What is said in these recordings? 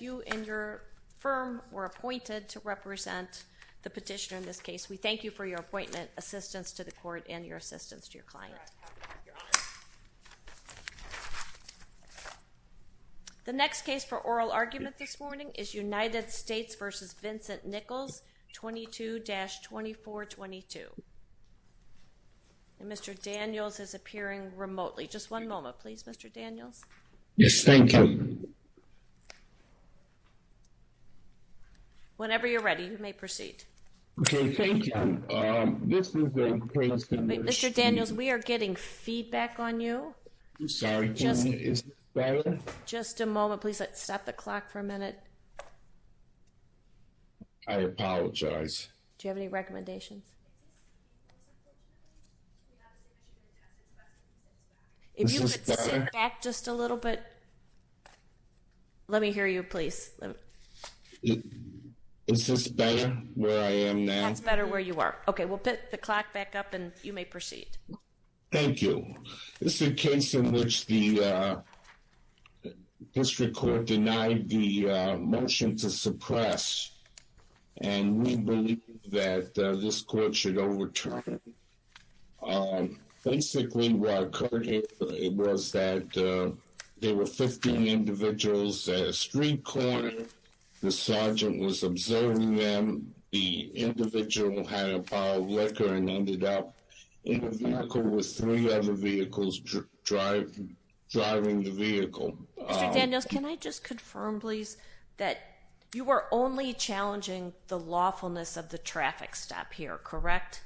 You and your firm were appointed to represent the petitioner in this case. We thank you for your appointment, assistance to the court and your assistance to your client. The next case for oral argument this morning is United States v. Vincent Nichols, 22-2422. Mr. Daniels is appearing remotely. Just one moment, please, Mr. Daniels. Yes, thank you. Whenever you're ready, you may proceed. Okay, thank you. Mr. Daniels, we are getting feedback on you. I'm sorry. Is this better? Just a moment, please. Let's stop the clock for a minute. I apologize. Do you have any recommendations? If you could sit back just a little bit, let me hear you, please. Is this better where I am now? That's better where you are. Okay, we'll put the clock back up and you may proceed. Thank you. This is a case in which the district court denied the motion to suppress. And we believe that this court should overturn. Basically, what occurred was that there were 15 individuals at a street corner. The sergeant was observing them. The individual had a pile of liquor and ended up in a vehicle with three other vehicles driving the vehicle. Mr. Daniels, can I just confirm, please, that you were only challenging the lawfulness of the traffic stop here, correct?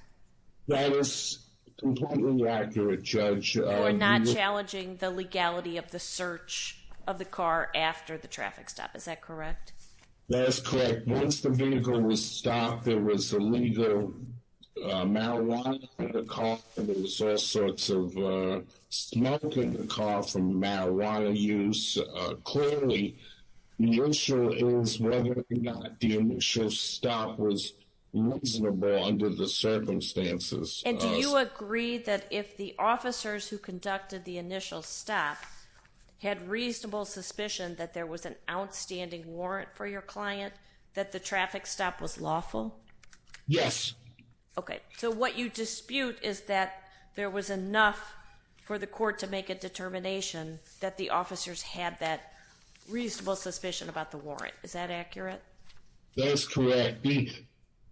That is completely accurate, Judge. You were not challenging the legality of the search of the car after the traffic stop. Is that correct? That is correct. Once the vehicle was stopped, there was illegal marijuana in the car. There was all sorts of smoke in the car from marijuana use. Clearly, the issue is whether or not the initial stop was reasonable under the circumstances. And do you agree that if the officers who conducted the initial stop had reasonable suspicion that there was an outstanding warrant for your client, that the traffic stop was lawful? Yes. Okay. So what you dispute is that there was enough for the court to make a determination that the officers had that reasonable suspicion about the warrant. Is that accurate? That is correct.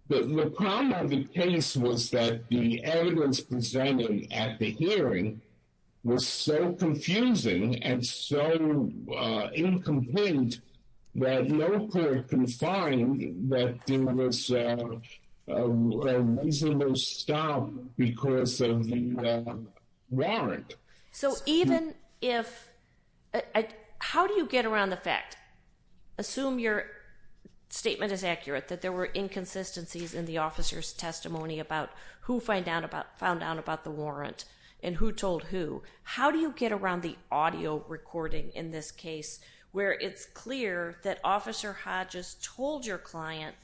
The problem of the case was that the evidence presented at the hearing was so confusing and so incomplete that no court can find that there was a reasonable stop because of the warrant. How do you get around the fact, assume your statement is accurate, that there were inconsistencies in the officer's testimony about who found out about the warrant and who told who? How do you get around the audio recording in this case where it's clear that Officer Hodges told your client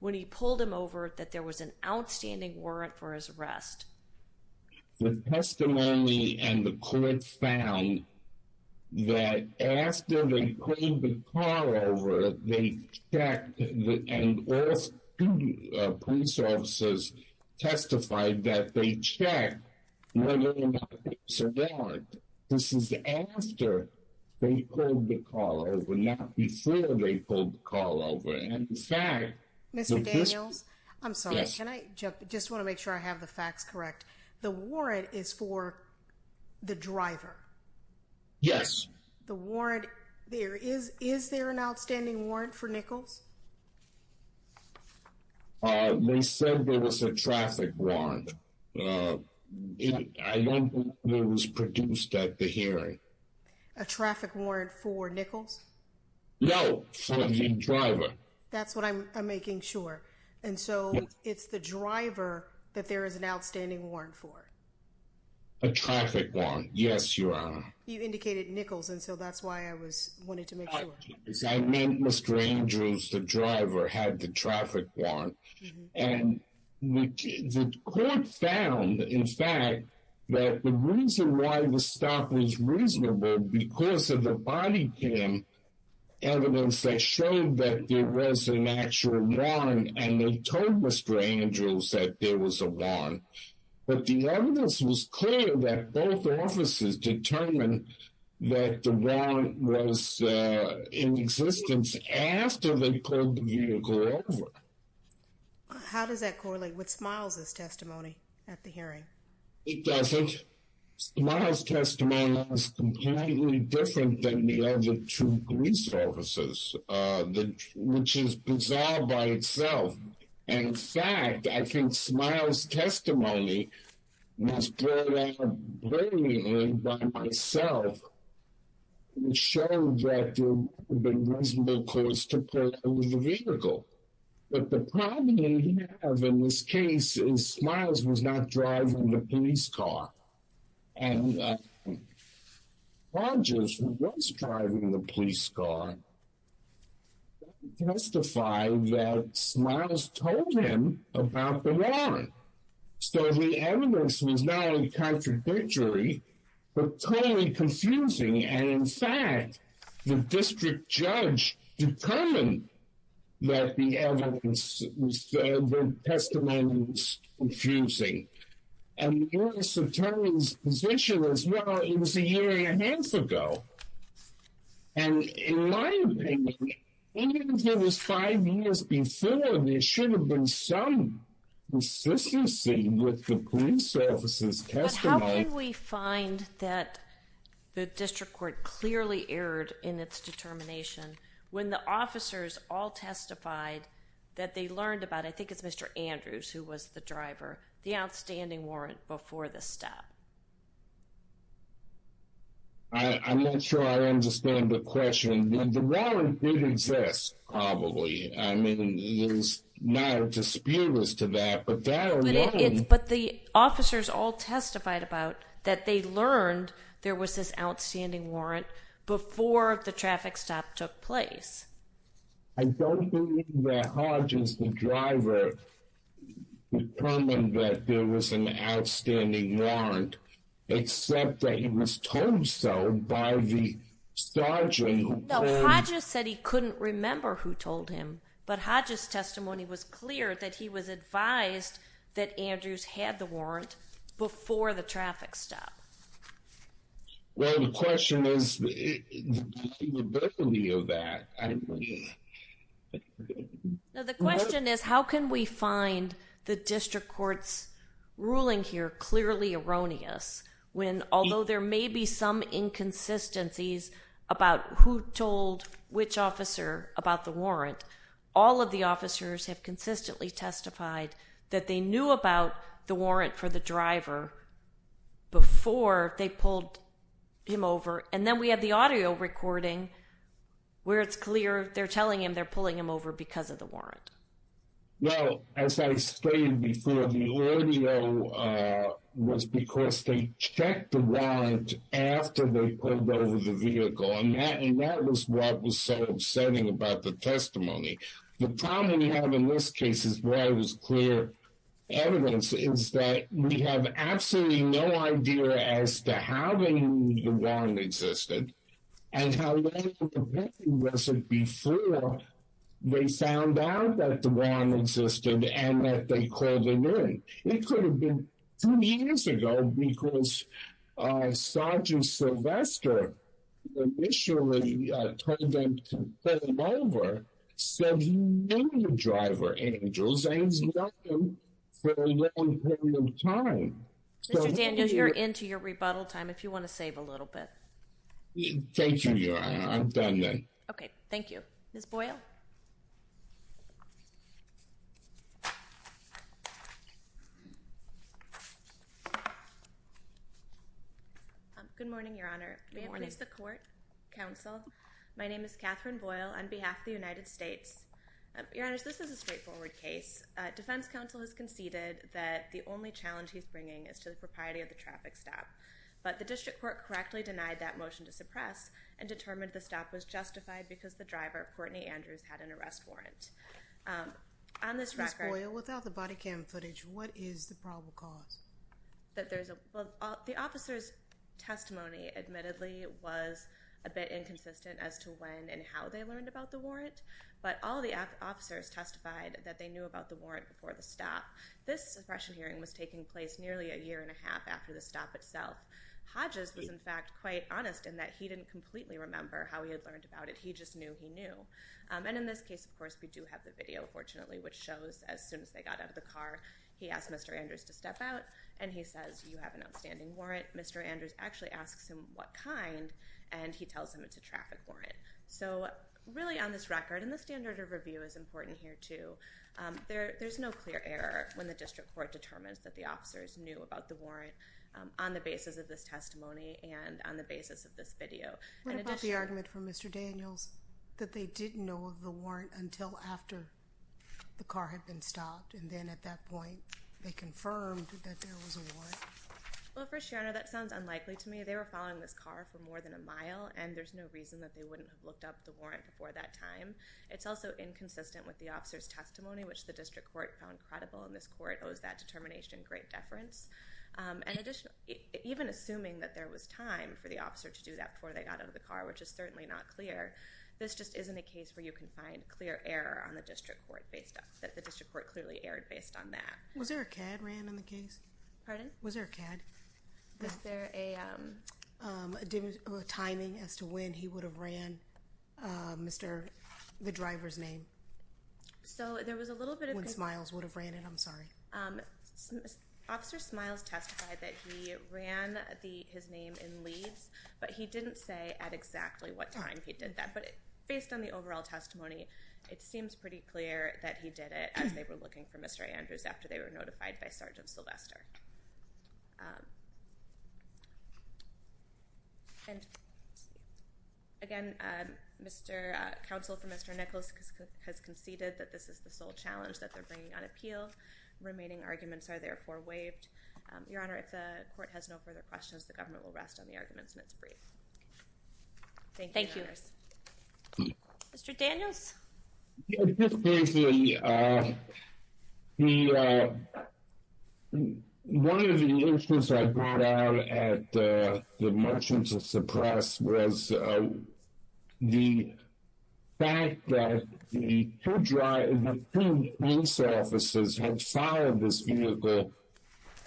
when he pulled him over that there was an outstanding warrant for his arrest? The testimony and the court found that after they pulled the car over, they checked and all police officers testified that they checked whether or not there was a warrant. This is after they pulled the car over, not before they pulled the car over. Mr. Daniels, I'm sorry. Can I just want to make sure I have the facts correct? The warrant is for the driver. Yes. The warrant, is there an outstanding warrant for Nichols? They said there was a traffic warrant. I don't think it was produced at the hearing. A traffic warrant for Nichols? No, for the driver. That's what I'm making sure. And so it's the driver that there is an outstanding warrant for? A traffic warrant, yes, Your Honor. You indicated Nichols, and so that's why I was wanting to make sure. I meant Mr. Andrews, the driver, had the traffic warrant. And the court found, in fact, that the reason why the stop was reasonable because of the body cam evidence that showed that there was an actual warrant, and they told Mr. Andrews that there was a warrant. But the evidence was clear that both officers determined that the warrant was in existence after they pulled the vehicle over. How does that correlate with Smiles' testimony at the hearing? It doesn't. Smiles' testimony is completely different than the other two police officers, which is bizarre by itself. In fact, I think Smiles' testimony was brought out plainly by myself. It showed that there would have been reasonable cause to pull over the vehicle. But the problem we have in this case is Smiles was not driving the police car. And Rogers, who was driving the police car, testified that Smiles told him about the warrant. So the evidence was not only contradictory, but totally confusing. And in fact, the district judge determined that the testimony was confusing. And the police attorney's position was, well, it was a year and a half ago. And in my opinion, even if it was five years before, there should have been some consistency with the police officer's testimony. Can we find that the district court clearly erred in its determination when the officers all testified that they learned about, I think it's Mr. Andrews who was the driver, the outstanding warrant before the stop? I'm not sure I understand the question. The warrant did exist, probably. I mean, there's no dispute as to that. But the officers all testified about that they learned there was this outstanding warrant before the traffic stop took place. I don't believe that Hodges, the driver, determined that there was an outstanding warrant, except that he was told so by the sergeant. No, Hodges said he couldn't remember who told him. But Hodges testimony was clear that he was advised that Andrews had the warrant before the traffic stop. Well, the question is the validity of that. The question is how can we find the district court's ruling here clearly erroneous when although there may be some inconsistencies about who told which officer about the warrant, all of the officers have consistently testified that they knew about the warrant for the driver before they pulled him over. And then we have the audio recording where it's clear they're telling him they're pulling him over because of the warrant. Well, as I explained before, the audio was because they checked the warrant after they pulled over the vehicle. And that was what was so upsetting about the testimony. The problem we have in this case is where it was clear evidence is that we have absolutely no idea as to how they knew the warrant existed and how long was it before they found out that the warrant existed and that they called a hearing. It could have been two years ago because Sergeant Sylvester initially told them to pull him over, said he knew the driver, Andrews, and he's known him for a long period of time. Mr. Daniels, you're into your rebuttal time if you want to save a little bit. Thank you, Your Honor. I'm done then. Okay, thank you. Ms. Boyle? Good morning, Your Honor. Good morning. My name is Catherine Boyle on behalf of the United States. Your Honor, this is a straightforward case. Defense counsel has conceded that the only challenge he's bringing is to the propriety of the traffic stop. But the district court correctly denied that motion to suppress and determined the stop was justified because the driver, Courtney Andrews, had an arrest warrant. Ms. Boyle, without the body cam footage, what is the probable cause? The officer's testimony, admittedly, was a bit inconsistent as to when and how they learned about the warrant, but all the officers testified that they knew about the warrant before the stop. This suppression hearing was taking place nearly a year and a half after the stop itself. Hodges was, in fact, quite honest in that he didn't completely remember how he had learned about it. He just knew he knew. And in this case, of course, we do have the video, fortunately, which shows as soon as they got out of the car, he asked Mr. Andrews to step out, and he says, you have an outstanding warrant. Mr. Andrews actually asks him what kind, and he tells him it's a traffic warrant. So, really, on this record, and the standard of review is important here, too, there's no clear error when the district court determines that the officers knew about the warrant on the basis of this testimony and on the basis of this video. What about the argument from Mr. Daniels that they didn't know of the warrant until after the car had been stopped, and then at that point, they confirmed that there was a warrant? Well, First Your Honor, that sounds unlikely to me. They were following this car for more than a mile, and there's no reason that they wouldn't have looked up the warrant before that time. It's also inconsistent with the officer's testimony, which the district court found credible, and this court owes that determination great deference. Even assuming that there was time for the officer to do that before they got out of the car, which is certainly not clear, this just isn't a case where you can find clear error on the district court, that the district court clearly erred based on that. Was there a CAD ran on the case? Pardon? Was there a CAD? Was there a timing as to when he would have ran the driver's name? So, there was a little bit of... When Smiles would have ran it, I'm sorry. Officer Smiles testified that he ran his name in Leeds, but he didn't say at exactly what time he did that, but based on the overall testimony, it seems pretty clear that he did it as they were looking for Mr. Andrews after they were notified by Sergeant Sylvester. Again, Mr. Counsel for Mr. Nichols has conceded that this is the sole challenge that they're bringing on appeal. Remaining arguments are therefore waived. Your Honor, if the court has no further questions, the government will rest on the arguments and it's brief. Thank you. Thank you. Mr. Daniels? Just briefly, one of the issues I brought out at the motion to suppress was the fact that the two police officers had followed this vehicle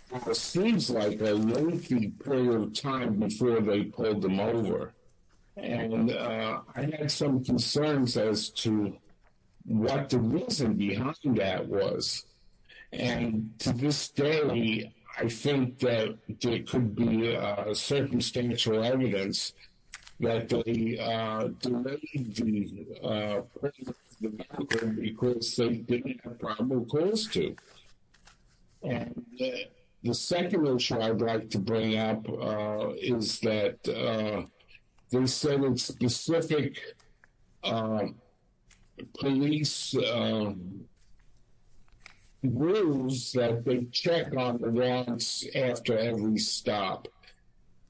for what seems like a lengthy period of time before they pulled him over. And I had some concerns as to what the reason behind that was. And to this day, I think that there could be circumstantial evidence that they delayed the process of the matter because they didn't have probable cause to. The second issue I'd like to bring up is that they said in specific police rules that they check on the routes after every stop.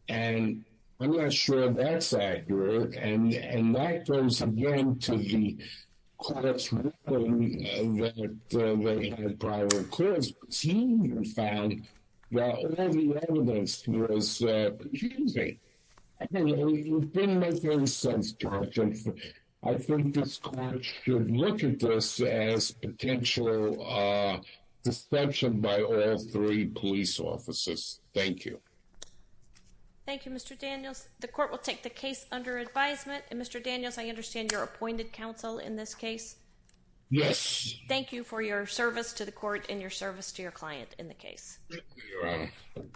And I'm not sure that's accurate. And that goes, again, to the court's ruling that they had probable cause. But senior found that all the evidence was confusing. And it didn't make any sense, Judge. I think this court should look at this as potential deception by all three police officers. Thank you. Thank you, Mr. Daniels. The court will take the case under advisement. And, Mr. Daniels, I understand you're appointed counsel in this case? Yes. Thank you for your service to the court and your service to your client in the case. You're welcome.